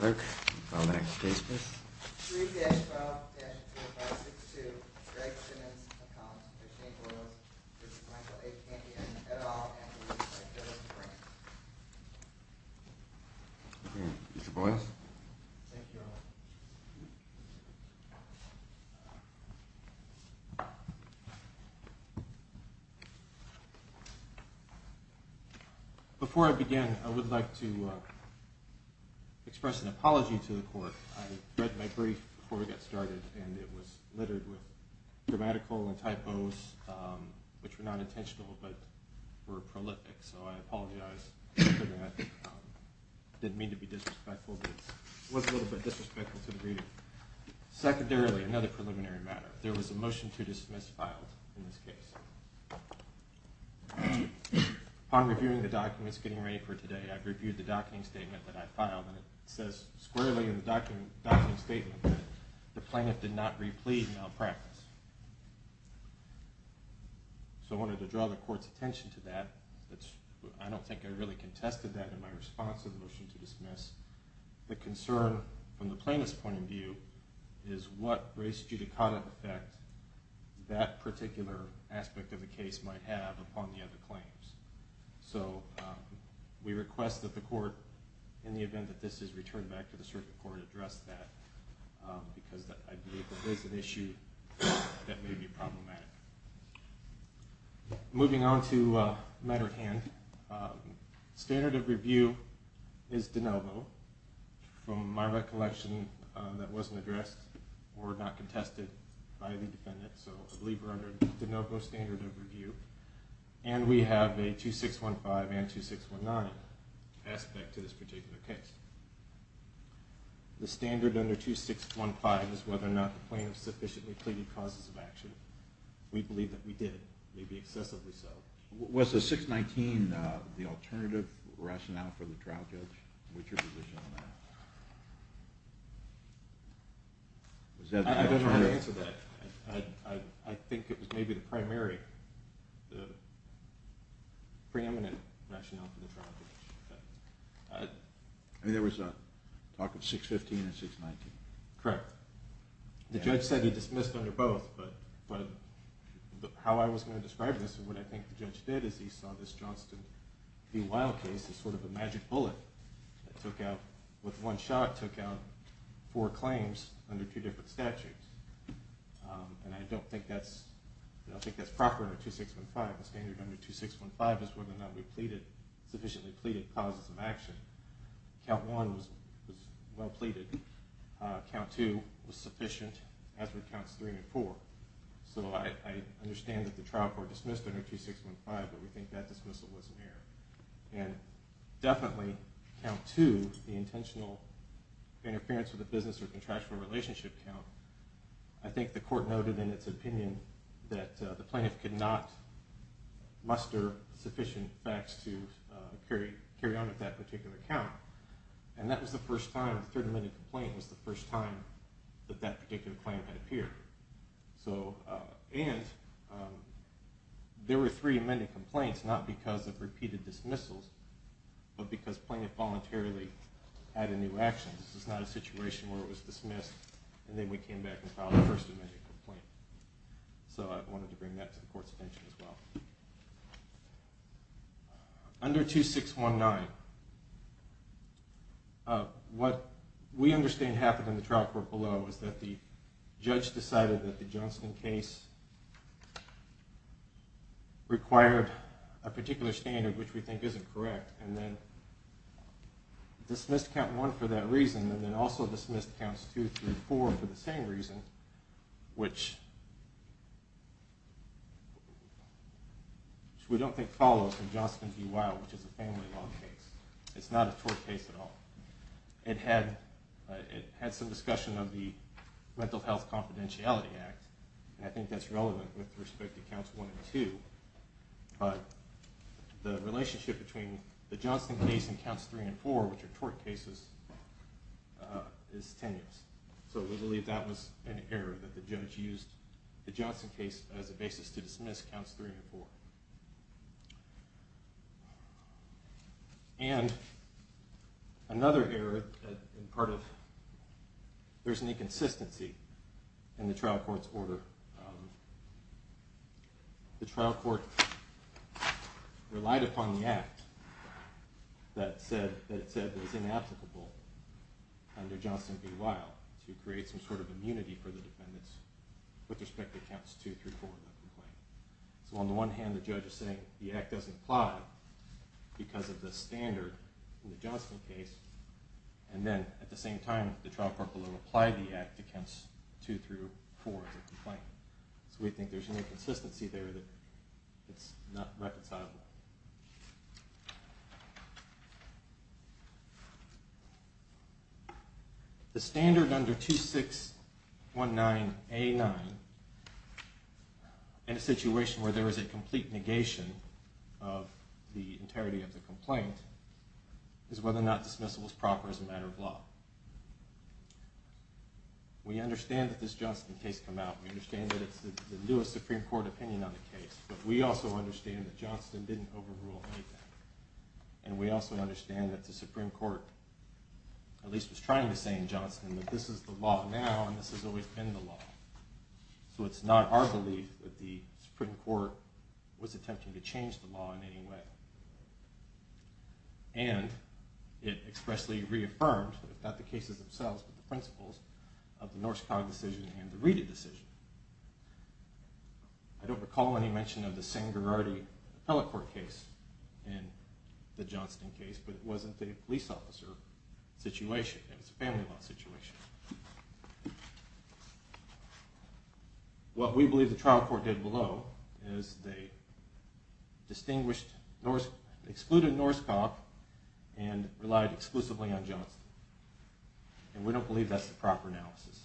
3-12-2562, Greg Simmons, a columnist for Shane Boyles, this is Michael A. Campion, et al., and this is my co-author, Frank. Mr. Boyles? Thank you all. Before I begin, I would like to express an apology to the Court. I read my brief before we got started, and it was littered with grammatical and typos, which were not intentional, but were prolific, so I apologize for that. I didn't mean to be disrespectful, but it was a little bit disrespectful to the reader. Secondarily, another preliminary matter, there was a motion to dismiss filed in this case. Upon reviewing the documents getting ready for today, I reviewed the docketing statement that I filed, and it says squarely in the docketing statement that the plaintiff did not replete malpractice. So I wanted to draw the Court's attention to that. I don't think I really contested that in my response to the motion to dismiss. The concern from the plaintiff's point of view is what race judicata effect that particular aspect of the case might have upon the other claims. So we request that the Court, in the event that this is returned back to the Circuit Court, address that, because I believe that this is an issue that may be problematic. Moving on to matter at hand, standard of review is de novo, from my recollection that wasn't addressed or not contested by the defendant. So I believe we're under de novo standard of review, and we have a 2615 and 2619 aspect to this particular case. The standard under 2615 is whether or not the plaintiff sufficiently pleaded causes of action. We believe that we did, maybe excessively so. Was the 619 the alternative rationale for the trial judge? What's your position on that? I don't know the answer to that. I think it was maybe the primary, the preeminent rationale for the trial judge. I mean, there was talk of 615 and 619. Correct. The judge said he dismissed under both, but how I was going to describe this and what I think the judge did is he saw this Johnston v. Wilde case as sort of a magic bullet that took out, with one shot, took out four claims under two different statutes, and I don't think that's proper under 2615. The standard under 2615 is whether or not we sufficiently pleaded causes of action. Count one was well pleaded. Count two was sufficient, as were counts three and four. So I understand that the trial court dismissed under 2615, but we think that dismissal was an error. And definitely, count two, the intentional interference with a business or contractual relationship count, I think the court noted in its opinion that the plaintiff could not muster sufficient facts to carry on with that particular count. And that was the first time, the third amended complaint was the first time that that particular claim had appeared. And there were three amended complaints, not because of repeated dismissals, but because plaintiff voluntarily had a new action. This is not a situation where it was dismissed and then we came back and filed a first amended complaint. So I wanted to bring that to the court's attention as well. Under 2619, what we understand happened in the trial court below is that the judge decided that the Johnston case required a particular standard, which we think isn't correct, and then dismissed count one for that reason and then also dismissed counts two through four for the same reason, which we don't think follows from Johnston v. Weill, which is a family law case. It's not a tort case at all. It had some discussion of the Mental Health Confidentiality Act, and I think that's relevant with respect to counts one and two. But the relationship between the Johnston case and counts three and four, which are tort cases, is tenuous. So we believe that was an error that the judge used the Johnston case as a basis to dismiss counts three and four. And another error, there's an inconsistency in the trial court's order. The trial court relied upon the act that it said was inapplicable under Johnston v. Weill to create some sort of immunity for the defendants with respect to counts two through four. So on the one hand the judge is saying the act doesn't apply because of the standard in the Johnston case, and then at the same time the trial court will apply the act to counts two through four as a complaint. So we think there's an inconsistency there that's not reconcilable. The standard under 2619A9 in a situation where there is a complete negation of the entirety of the complaint is whether or not dismissal is proper as a matter of law. We understand that this Johnston case came out. We understand that it's the newest Supreme Court opinion on the case. But we also understand that Johnston didn't overrule anything. And we also understand that the Supreme Court at least was trying to say in Johnston that this is the law now and this has always been the law. So it's not our belief that the Supreme Court was attempting to change the law in any way. And it expressly reaffirmed, if not the cases themselves, but the principles of the Norskog decision and the Reedy decision. I don't recall any mention of the Sangherardi appellate court case in the Johnston case, but it wasn't a police officer situation. It was a family law situation. What we believe the trial court did below is they excluded Norskog and relied exclusively on Johnston. And we don't believe that's the proper analysis.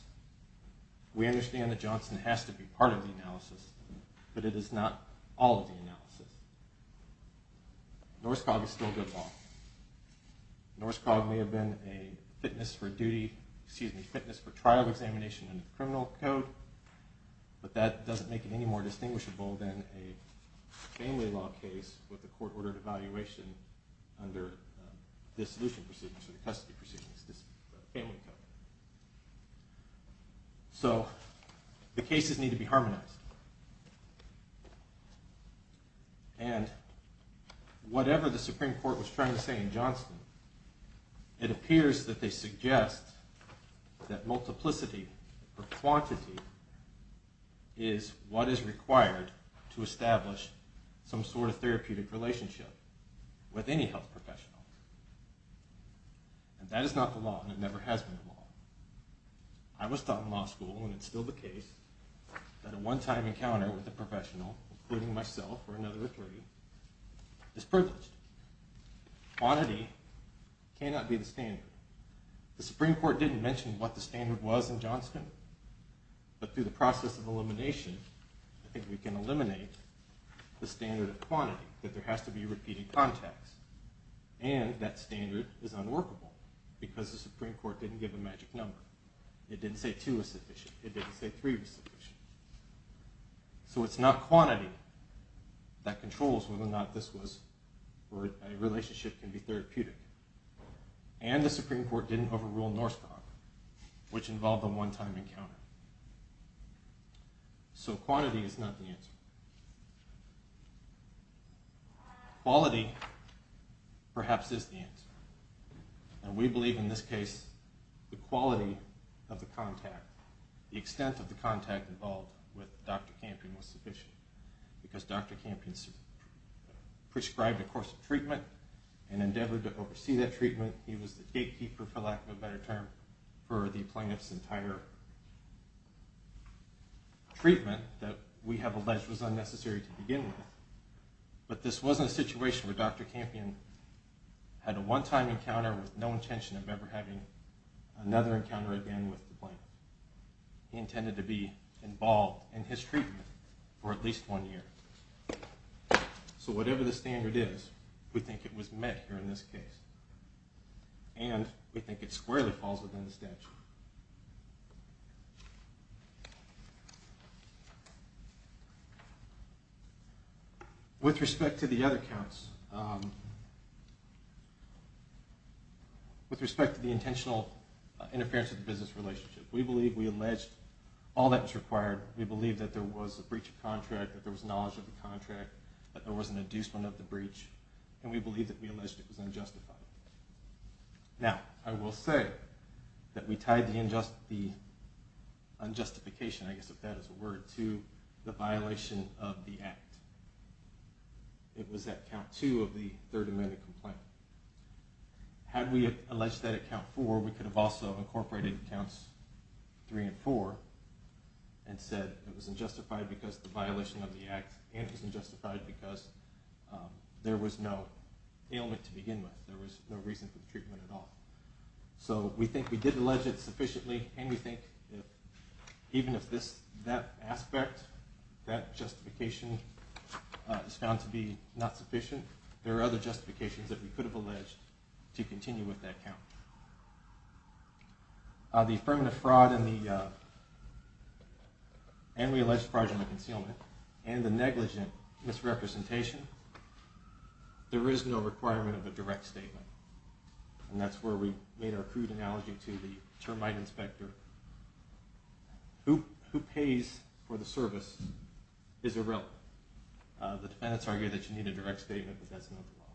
We understand that Johnston has to be part of the analysis, but it is not all of the analysis. Norskog is still good law. Norskog may have been a fitness for trial examination under the criminal code, but that doesn't make it any more distinguishable than a family law case with a court-ordered evaluation under the dissolution procedure, the custody procedure, the family code. So the cases need to be harmonized. And whatever the Supreme Court was trying to say in Johnston, it appears that they suggest that multiplicity or quantity is what is required to establish some sort of therapeutic relationship with any health professional. And that is not the law, and it never has been the law. I was taught in law school, and it's still the case, that a one-time encounter with a professional, including myself or another attorney, is privileged. Quantity cannot be the standard. The Supreme Court didn't mention what the standard was in Johnston, but through the process of elimination, I think we can eliminate the standard of quantity, that there has to be repeating contacts. And that standard is unworkable because the Supreme Court didn't give a magic number. It didn't say two was sufficient. It didn't say three was sufficient. So it's not quantity that controls whether or not a relationship can be therapeutic. And the Supreme Court didn't overrule Norskog, which involved a one-time encounter. So quantity is not the answer. Quality, perhaps, is the answer. And we believe, in this case, the quality of the contact, the extent of the contact involved with Dr. Campion was sufficient. Because Dr. Campion prescribed a course of treatment and endeavored to oversee that treatment. He was the gatekeeper, for lack of a better term, for the plaintiff's entire treatment that we have alleged was unnecessary to begin with. But this wasn't a situation where Dr. Campion had a one-time encounter with no intention of ever having another encounter again with the plaintiff. He intended to be involved in his treatment for at least one year. So whatever the standard is, we think it was met here in this case. And we think it squarely falls within the statute. With respect to the other counts, with respect to the intentional interference of the business relationship, we believe we alleged all that was required. We believe that there was a breach of contract, that there was knowledge of the contract, that there was an inducement of the breach. And we believe that we alleged it was unjustified. Now, I will say that we tied the unjustification, I guess if that is a word, to the violation of the Act. It was at count two of the Third Amendment complaint. Had we alleged that at count four, we could have also incorporated counts three and four and said it was unjustified because of the violation of the Act and it was unjustified because there was no ailment to begin with. There was no reason for the treatment at all. So we think we did allege it sufficiently, and we think even if that aspect, that justification is found to be not sufficient, there are other justifications that we could have alleged to continue with that count. The affirmative fraud, and we alleged fraudulent concealment, and the negligent misrepresentation, there is no requirement of a direct statement. And that is where we made our crude analogy to the termite inspector. Who pays for the service is irrelevant. The defendants argue that you need a direct statement, but that is not the law.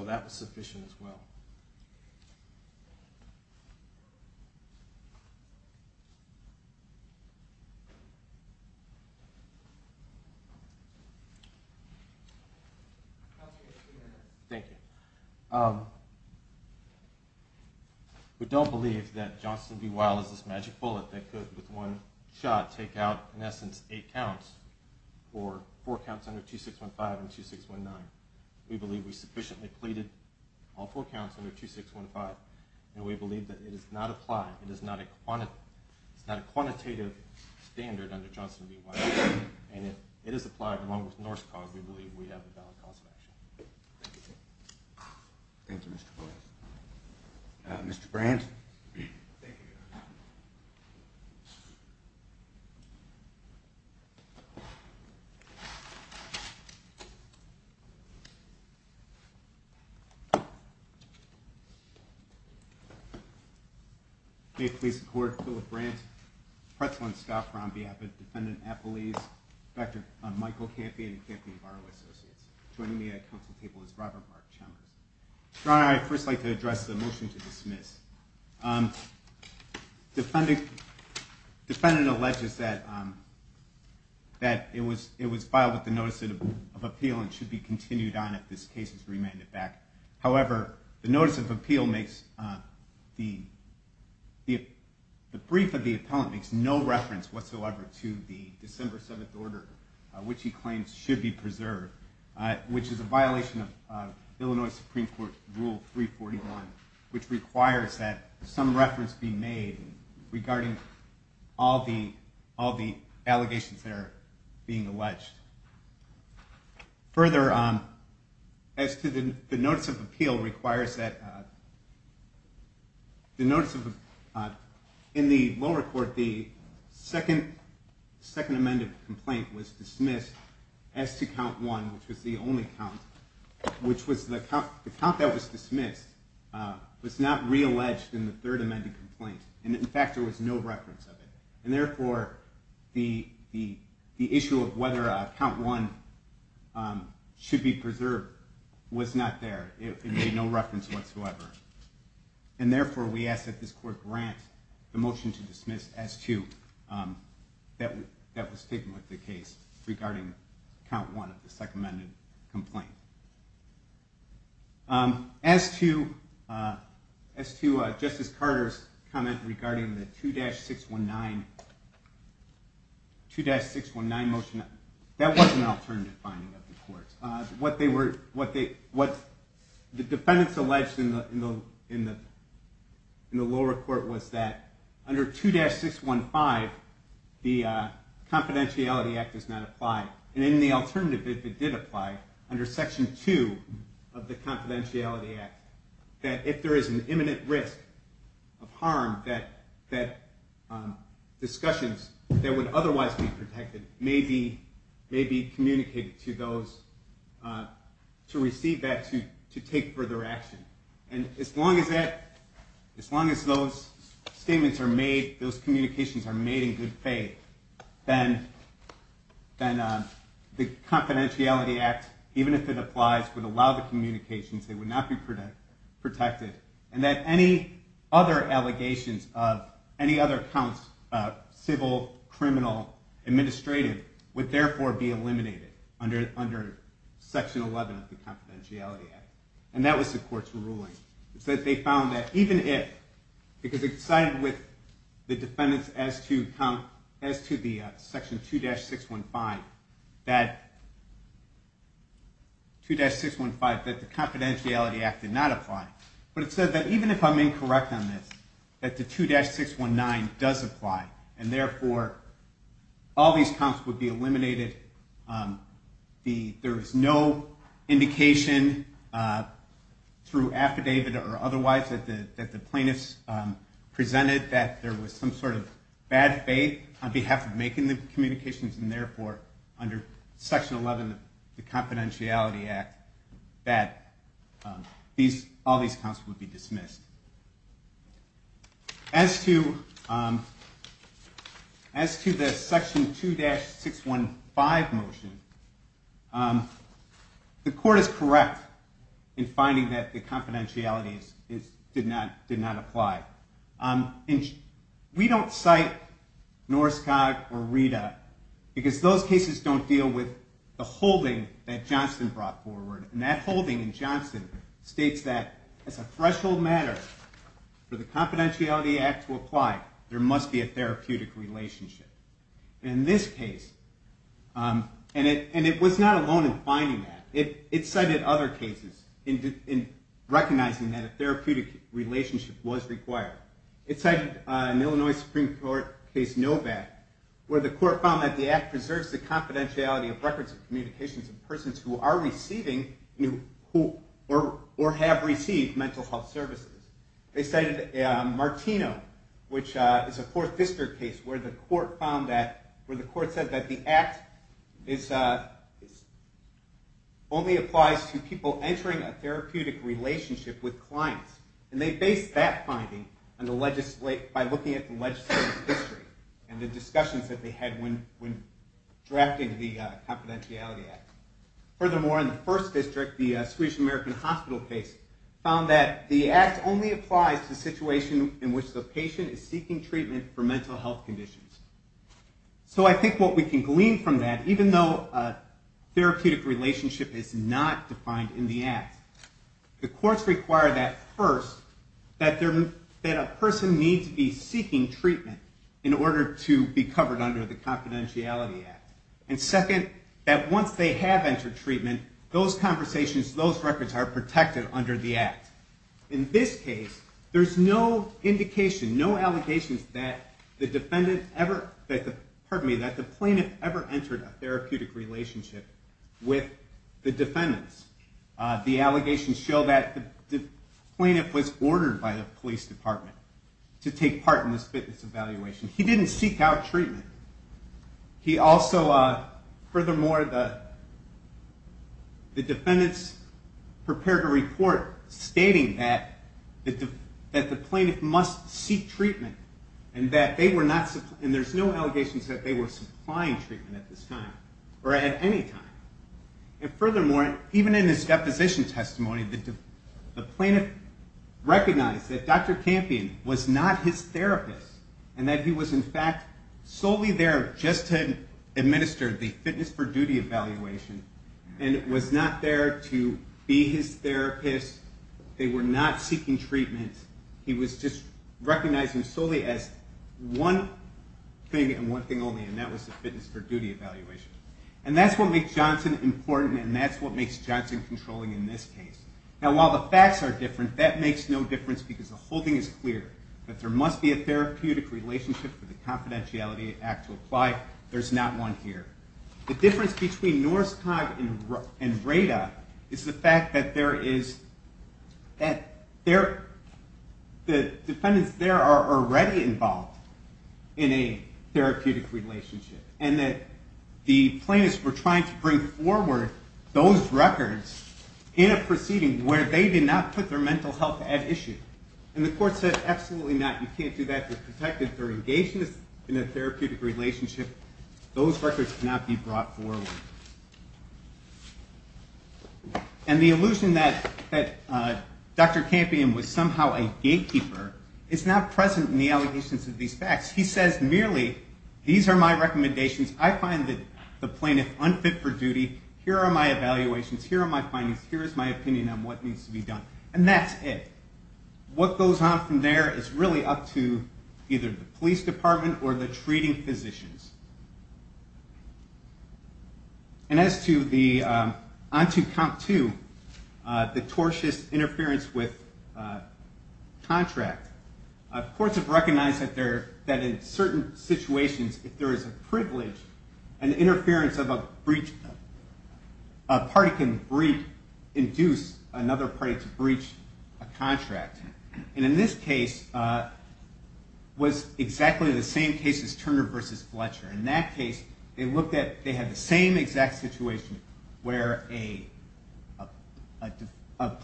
So that was sufficient as well. Thank you. We don't believe that Johnston B. Weil is this magic bullet that could, with one shot, take out, in essence, eight counts, or four counts under 2615 and 2619. We believe we sufficiently pleaded all four counts under 2615, and we believe that it does not apply. It is not a quantitative standard under Johnston B. Weil, and if it is applied along with Norscog, we believe we have the valid cause of action. Mr. Brandt? Thank you. May it please the Court, Philip Brandt, Pretzel and Scoffron, on behalf of Defendant Appleese, Defector Michael Campion, and Campion Barrow Associates. Joining me at the council table is Robert Mark Chalmers. Your Honor, I would first like to address the motion to dismiss. Defendant alleges that it was filed with the notice of appeal and should be continued on if this case is remanded back. However, the brief of the appellant makes no reference whatsoever to the December 7th order, which he claims should be preserved, which is a violation of Illinois Supreme Court Rule 341, which requires that some reference be made regarding all the allegations that are being alleged. Further, as to the notice of appeal, it requires that the notice of... In the lower court, the second amended complaint was dismissed as to count one, which was the only count, which was the count that was dismissed was not realleged in the third amended complaint. And in fact, there was no reference of it. And therefore, the issue of whether count one should be preserved was not there. It made no reference whatsoever. And therefore, we ask that this court grant the motion to dismiss as to... that was taken with the case regarding count one of the second amended complaint. As to Justice Carter's comment regarding the 2-619 motion, that was an alternative finding of the court. What the defendants alleged in the lower court was that under 2-615, the Confidentiality Act does not apply. And in the alternative, if it did apply, under Section 2 of the Confidentiality Act, that if there is an imminent risk of harm, that discussions that would otherwise be protected may be communicated to those... to receive that to take further action. And as long as those statements are made, those communications are made in good faith, then the Confidentiality Act, even if it applies, would allow the communications. They would not be protected. And that any other allegations of any other counts, civil, criminal, administrative, would therefore be eliminated under Section 11 of the Confidentiality Act. And that was the court's ruling. It said they found that even if... because it sided with the defendants as to the Section 2-615, that 2-615, that the Confidentiality Act did not apply. But it said that even if I'm incorrect on this, that the 2-619 does apply. There is no indication, through affidavit or otherwise, that the plaintiffs presented that there was some sort of bad faith on behalf of making the communications, and therefore, under Section 11 of the Confidentiality Act, that all these counts would be dismissed. As to the Section 2-615 motion, the court is correct in finding that the confidentiality did not apply. We don't cite Norskog or Rita, because those cases don't deal with the holding that Johnson brought forward. And that holding in Johnson states that, as a threshold matter for the Confidentiality Act to apply, there must be a therapeutic relationship. In this case, and it was not alone in finding that. It cited other cases in recognizing that a therapeutic relationship was required. It cited an Illinois Supreme Court case, Novak, where the court found that the act preserves the confidentiality of records of communications of persons who are receiving or have received mental health services. They cited Martino, which is a 4th District case, where the court said that the act only applies to people entering a therapeutic relationship with clients. And they based that finding by looking at the legislative history and the discussions that they had when drafting the Confidentiality Act. Furthermore, in the 1st District, the Swedish American Hospital case found that the act only applies to situations in which the patient is seeking treatment for mental health conditions. So I think what we can glean from that, even though a therapeutic relationship is not defined in the act, the courts require that first, that a person needs to be seeking treatment in order to be covered under the Confidentiality Act. And second, that once they have entered treatment, those conversations, those records are protected under the act. In this case, there's no indication, no allegations, that the plaintiff ever entered a therapeutic relationship with the defendants. The allegations show that the plaintiff was ordered by the police department to take part in this fitness evaluation. He didn't seek out treatment. He also, furthermore, the defendants prepared a report stating that the plaintiff must seek treatment, and there's no allegations that they were supplying treatment at this time, or at any time. And furthermore, even in his deposition testimony, the plaintiff recognized that Dr. Campion was not his therapist, and that he was, in fact, solely there just to administer the fitness for duty evaluation, and was not there to be his therapist. They were not seeking treatment. He was just recognizing solely as one thing and one thing only, and that was the fitness for duty evaluation. And that's what makes Johnson important, and that's what makes Johnson controlling in this case. Now, while the facts are different, that makes no difference, because the whole thing is clear, that there must be a therapeutic relationship for the confidentiality act to apply. There's not one here. The difference between NORSCOG and RADA is the fact that the defendants there are already involved in a therapeutic relationship, and that the plaintiffs were trying to bring forward those records in a proceeding where they did not put their mental health at issue. And the court said, absolutely not. You can't do that. They're protected. They're engaged in a therapeutic relationship. Those records cannot be brought forward. And the illusion that Dr. Campion was somehow a gatekeeper is not present in the allegations of these facts. He says merely, these are my recommendations. I find the plaintiff unfit for duty. Here are my evaluations. Here are my findings. Here is my opinion on what needs to be done. And that's it. What goes on from there is really up to either the police department or the treating physicians. And as to the on to count two, the tortious interference with contract, courts have recognized that in certain situations, if there is a privilege, an interference of a breach, a party can induce another party to breach a contract. And in this case, it was exactly the same case as Turner v. Fletcher. In that case, they had the same exact situation where a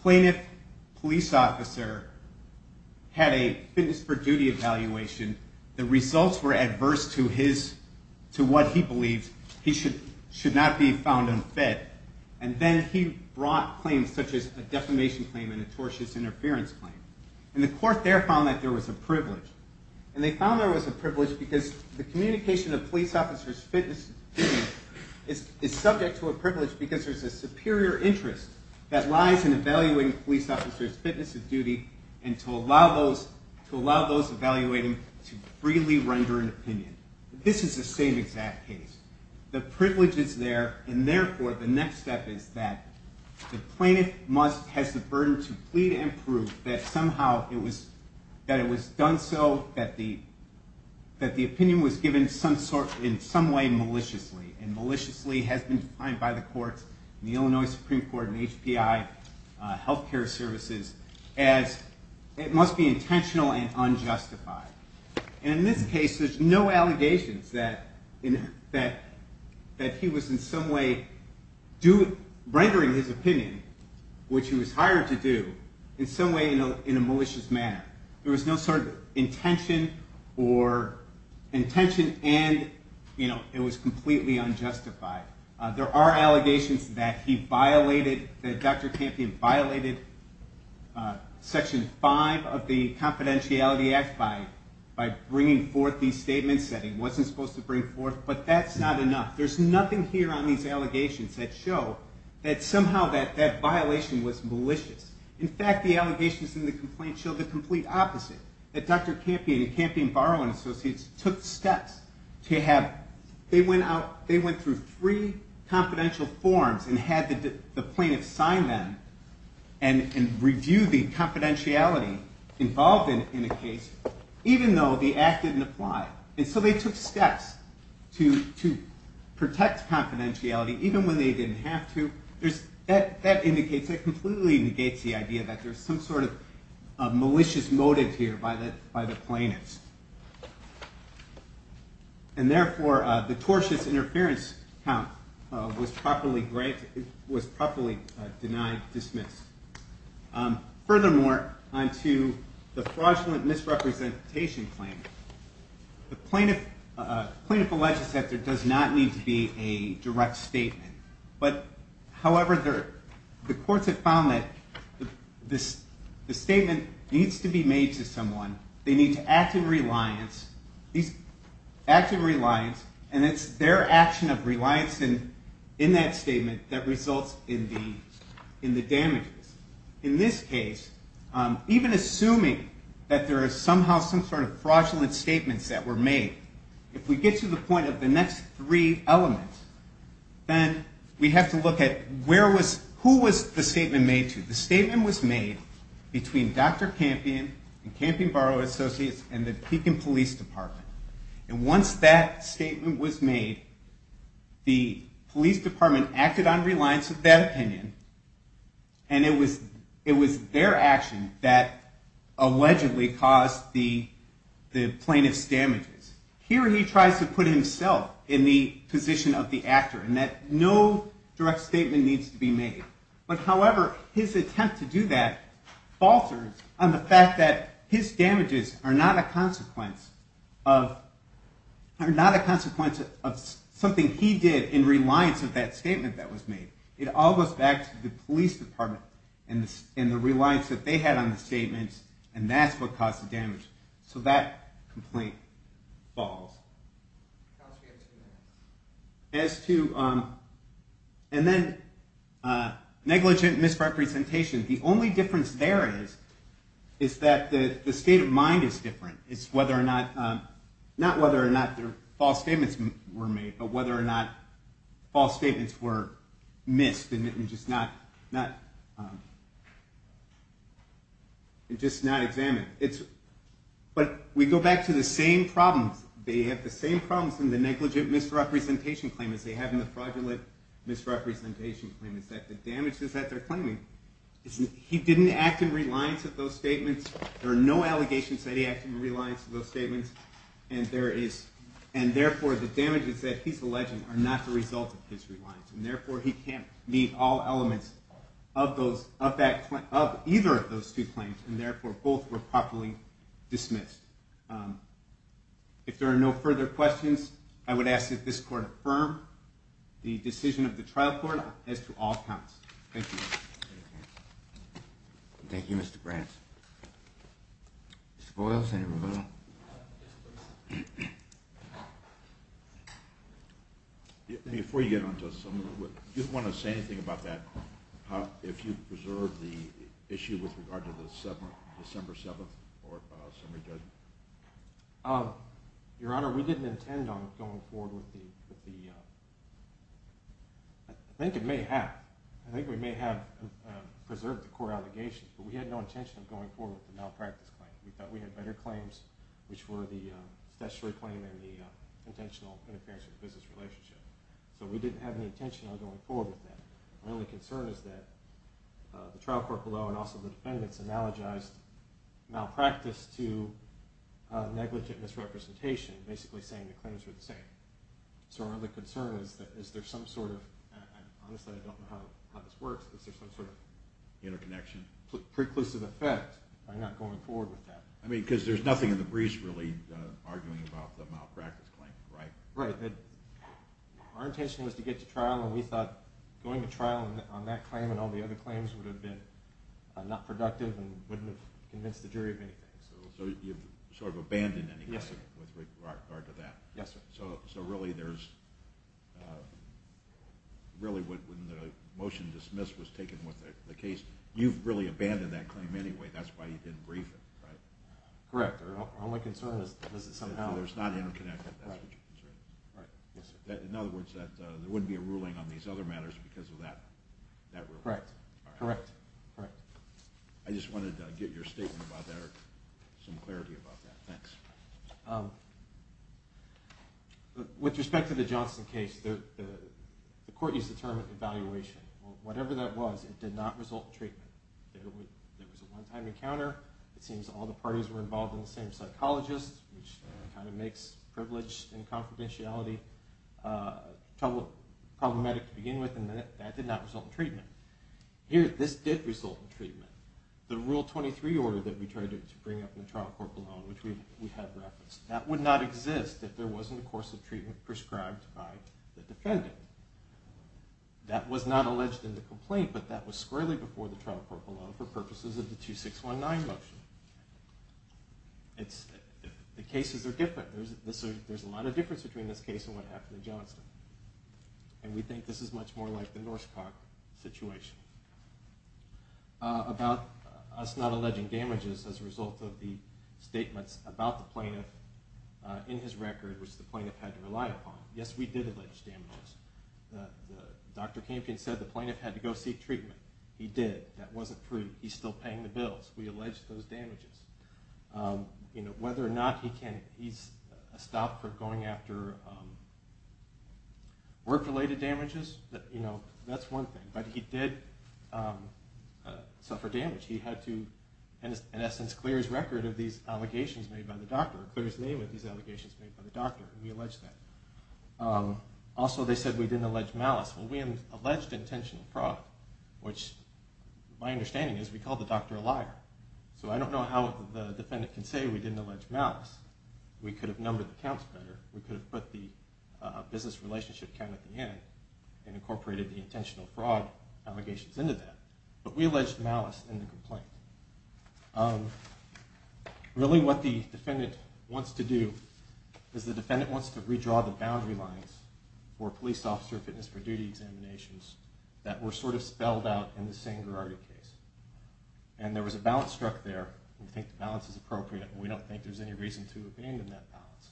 plaintiff police officer had a fitness for duty evaluation. The results were adverse to what he believed should not be found unfit. And then he brought claims such as a defamation claim and a tortious interference claim. And the court there found that there was a privilege. And they found there was a privilege because the communication of police officers' fitness is subject to a privilege because there's a superior interest that lies in evaluating police officers' fitness of duty and to allow those evaluating to freely render an opinion. This is the same exact case. The privilege is there, and therefore, the next step is that the plaintiff has the burden to plead and prove that somehow it was done so, that the opinion was given in some way maliciously. And maliciously has been defined by the courts, the Illinois Supreme Court and HPI Healthcare Services, as it must be intentional and unjustified. And in this case, there's no allegations that he was in some way rendering his opinion, which he was hired to do, in some way in a malicious manner. There was no sort of intention, and it was completely unjustified. There are allegations that he violated, that Dr. Campion violated Section 5 of the Confidentiality Act by bringing forth these statements that he wasn't supposed to bring forth, but that's not enough. There's nothing here on these allegations that show that somehow that violation was malicious. In fact, the allegations in the complaint show the complete opposite, that Dr. Campion and Campion Barrow and Associates took steps to have, they went through three confidential forms and had the plaintiff sign them and review the confidentiality involved in a case, even though the act didn't apply. And so they took steps to protect confidentiality, even when they didn't have to. That indicates, that completely negates the idea that there's some sort of malicious motive here by the plaintiffs. And therefore, the tortious interference count was properly denied, dismissed. Furthermore, on to the fraudulent misrepresentation claim, the plaintiff alleges that there does not need to be a direct statement, but, however, the courts have found that the statement needs to be made to someone, they need to act in reliance, and it's their action of reliance in that statement that results in the damages. In this case, even assuming that there is somehow some sort of fraudulent statements that were made, if we get to the point of the next three elements, then we have to look at who was the statement made to. The statement was made between Dr. Campion and Campion Barrow Associates and the Pekin Police Department. And once that statement was made, the police department acted on reliance of that opinion, and it was their action that allegedly caused the plaintiff's damages. Here he tries to put himself in the position of the actor in that no direct statement needs to be made. But, however, his attempt to do that falters on the fact that his damages are not a consequence of something he did in reliance of that statement that was made. It all goes back to the police department and the reliance that they had on the statements, and that's what caused the damage. So that complaint falls. And then negligent misrepresentation. The only difference there is that the state of mind is different. It's not whether or not the false statements were made, but whether or not false statements were missed and just not examined. But we go back to the same problems. They have the same problems in the negligent misrepresentation claim as they have in the fraudulent misrepresentation claim, is that the damages that they're claiming, he didn't act in reliance of those statements. There are no allegations that he acted in reliance of those statements, and therefore the damages that he's alleging are not the result of his reliance, and therefore he can't meet all elements of either of those two claims, and therefore both were properly dismissed. If there are no further questions, I would ask that this court affirm the decision of the trial court as to all counts. Thank you. Thank you, Mr. Brant. Mr. Boyle, Senator Boyle. Before you get on to us, if you want to say anything about that, if you've preserved the issue with regard to the December 7th summary judgment. Your Honor, we didn't intend on going forward with the – I think it may have. I think we may have preserved the core allegations, but we had no intention of going forward with the malpractice claim. We thought we had better claims, which were the statutory claim and the intentional interference with the business relationship. So we didn't have any intention of going forward with that. My only concern is that the trial court below and also the defendants analogized malpractice to negligent misrepresentation, basically saying the claims were the same. So our only concern is that is there some sort of – honestly, I don't know how this works, but is there some sort of preclusive effect by not going forward with that? I mean, because there's nothing in the briefs really arguing about the malpractice claim, right? Right. Our intention was to get to trial, and we thought going to trial on that claim and all the other claims would have been not productive and wouldn't have convinced the jury of anything. So you've sort of abandoned anything with regard to that. Yes, sir. So really there's – really when the motion dismissed was taken with the case, you've really abandoned that claim anyway. That's why you didn't brief it, right? Correct. Our only concern is that somehow – There's not interconnection. That's what your concern is. Right. Yes, sir. In other words, that there wouldn't be a ruling on these other matters because of that ruling. Correct. Correct. Correct. I just wanted to get your statement about that or some clarity about that. Thanks. With respect to the Johnson case, the court used the term evaluation. Whatever that was, it did not result in treatment. There was a one-time encounter. It seems all the parties were involved in the same psychologist, which kind of makes privilege and confidentiality problematic to begin with, and that did not result in treatment. Here, this did result in treatment. The Rule 23 order that we tried to bring up in the trial court below, which we had referenced, that would not exist if there wasn't a course of treatment prescribed by the defendant. That was not alleged in the complaint, but that was squarely before the trial court below for purposes of the 2619 motion. The cases are different. There's a lot of difference between this case and what happened in Johnson, and we think this is much more like the Norskog situation. About us not alleging damages as a result of the statements about the plaintiff in his record, which the plaintiff had to rely upon, yes, we did allege damages. Dr. Campion said the plaintiff had to go seek treatment. He did. That wasn't true. He's still paying the bills. We allege those damages. Whether or not he stopped going after work-related damages, that's one thing, but he did suffer damage. He had to, in essence, clear his record of these allegations made by the doctor, clear his name of these allegations made by the doctor, and we allege that. Also, they said we didn't allege malice. Well, we alleged intentional fraud, which my understanding is we called the doctor a liar, so I don't know how the defendant can say we didn't allege malice. We could have numbered the counts better. We could have put the business relationship count at the end and incorporated the intentional fraud allegations into that, but we alleged malice in the complaint. Really what the defendant wants to do is the defendant wants to redraw the boundary lines for police officer fitness for duty examinations that were sort of spelled out in the Sangherardi case, and there was a balance struck there. We think the balance is appropriate, and we don't think there's any reason to abandon that balance.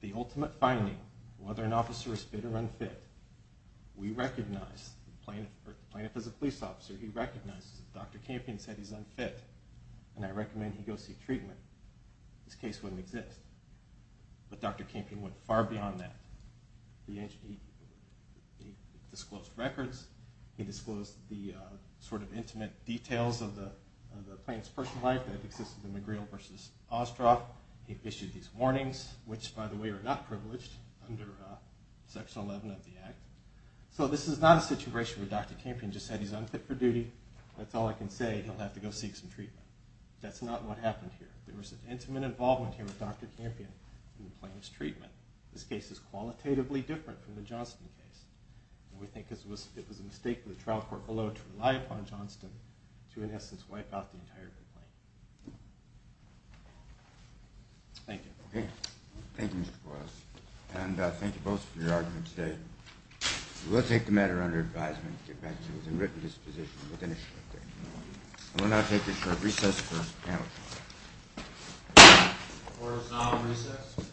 The ultimate finding, whether an officer is fit or unfit, we recognize. Plaintiff is a police officer. He recognizes. If Dr. Campion said he's unfit and I recommend he go seek treatment, this case wouldn't exist. But Dr. Campion went far beyond that. He disclosed records. He disclosed the sort of intimate details of the plaintiff's personal life that existed in McGreal v. Ostroff. He issued these warnings, which, by the way, are not privileged under Section 11 of the Act. So this is not a situation where Dr. Campion just said he's unfit for duty. That's all I can say. He'll have to go seek some treatment. That's not what happened here. There was an intimate involvement here with Dr. Campion in the plaintiff's treatment. This case is qualitatively different from the Johnston case, and we think it was a mistake for the trial court below to rely upon Johnston to, in essence, wipe out the entire complaint. Thank you. Okay. Thank you, Mr. Boyles. And thank you both for your arguments today. We will take the matter under advisement to get back to you with a written disposition within a short period of time. We'll now take a short recess for the panel. Court is now in recess.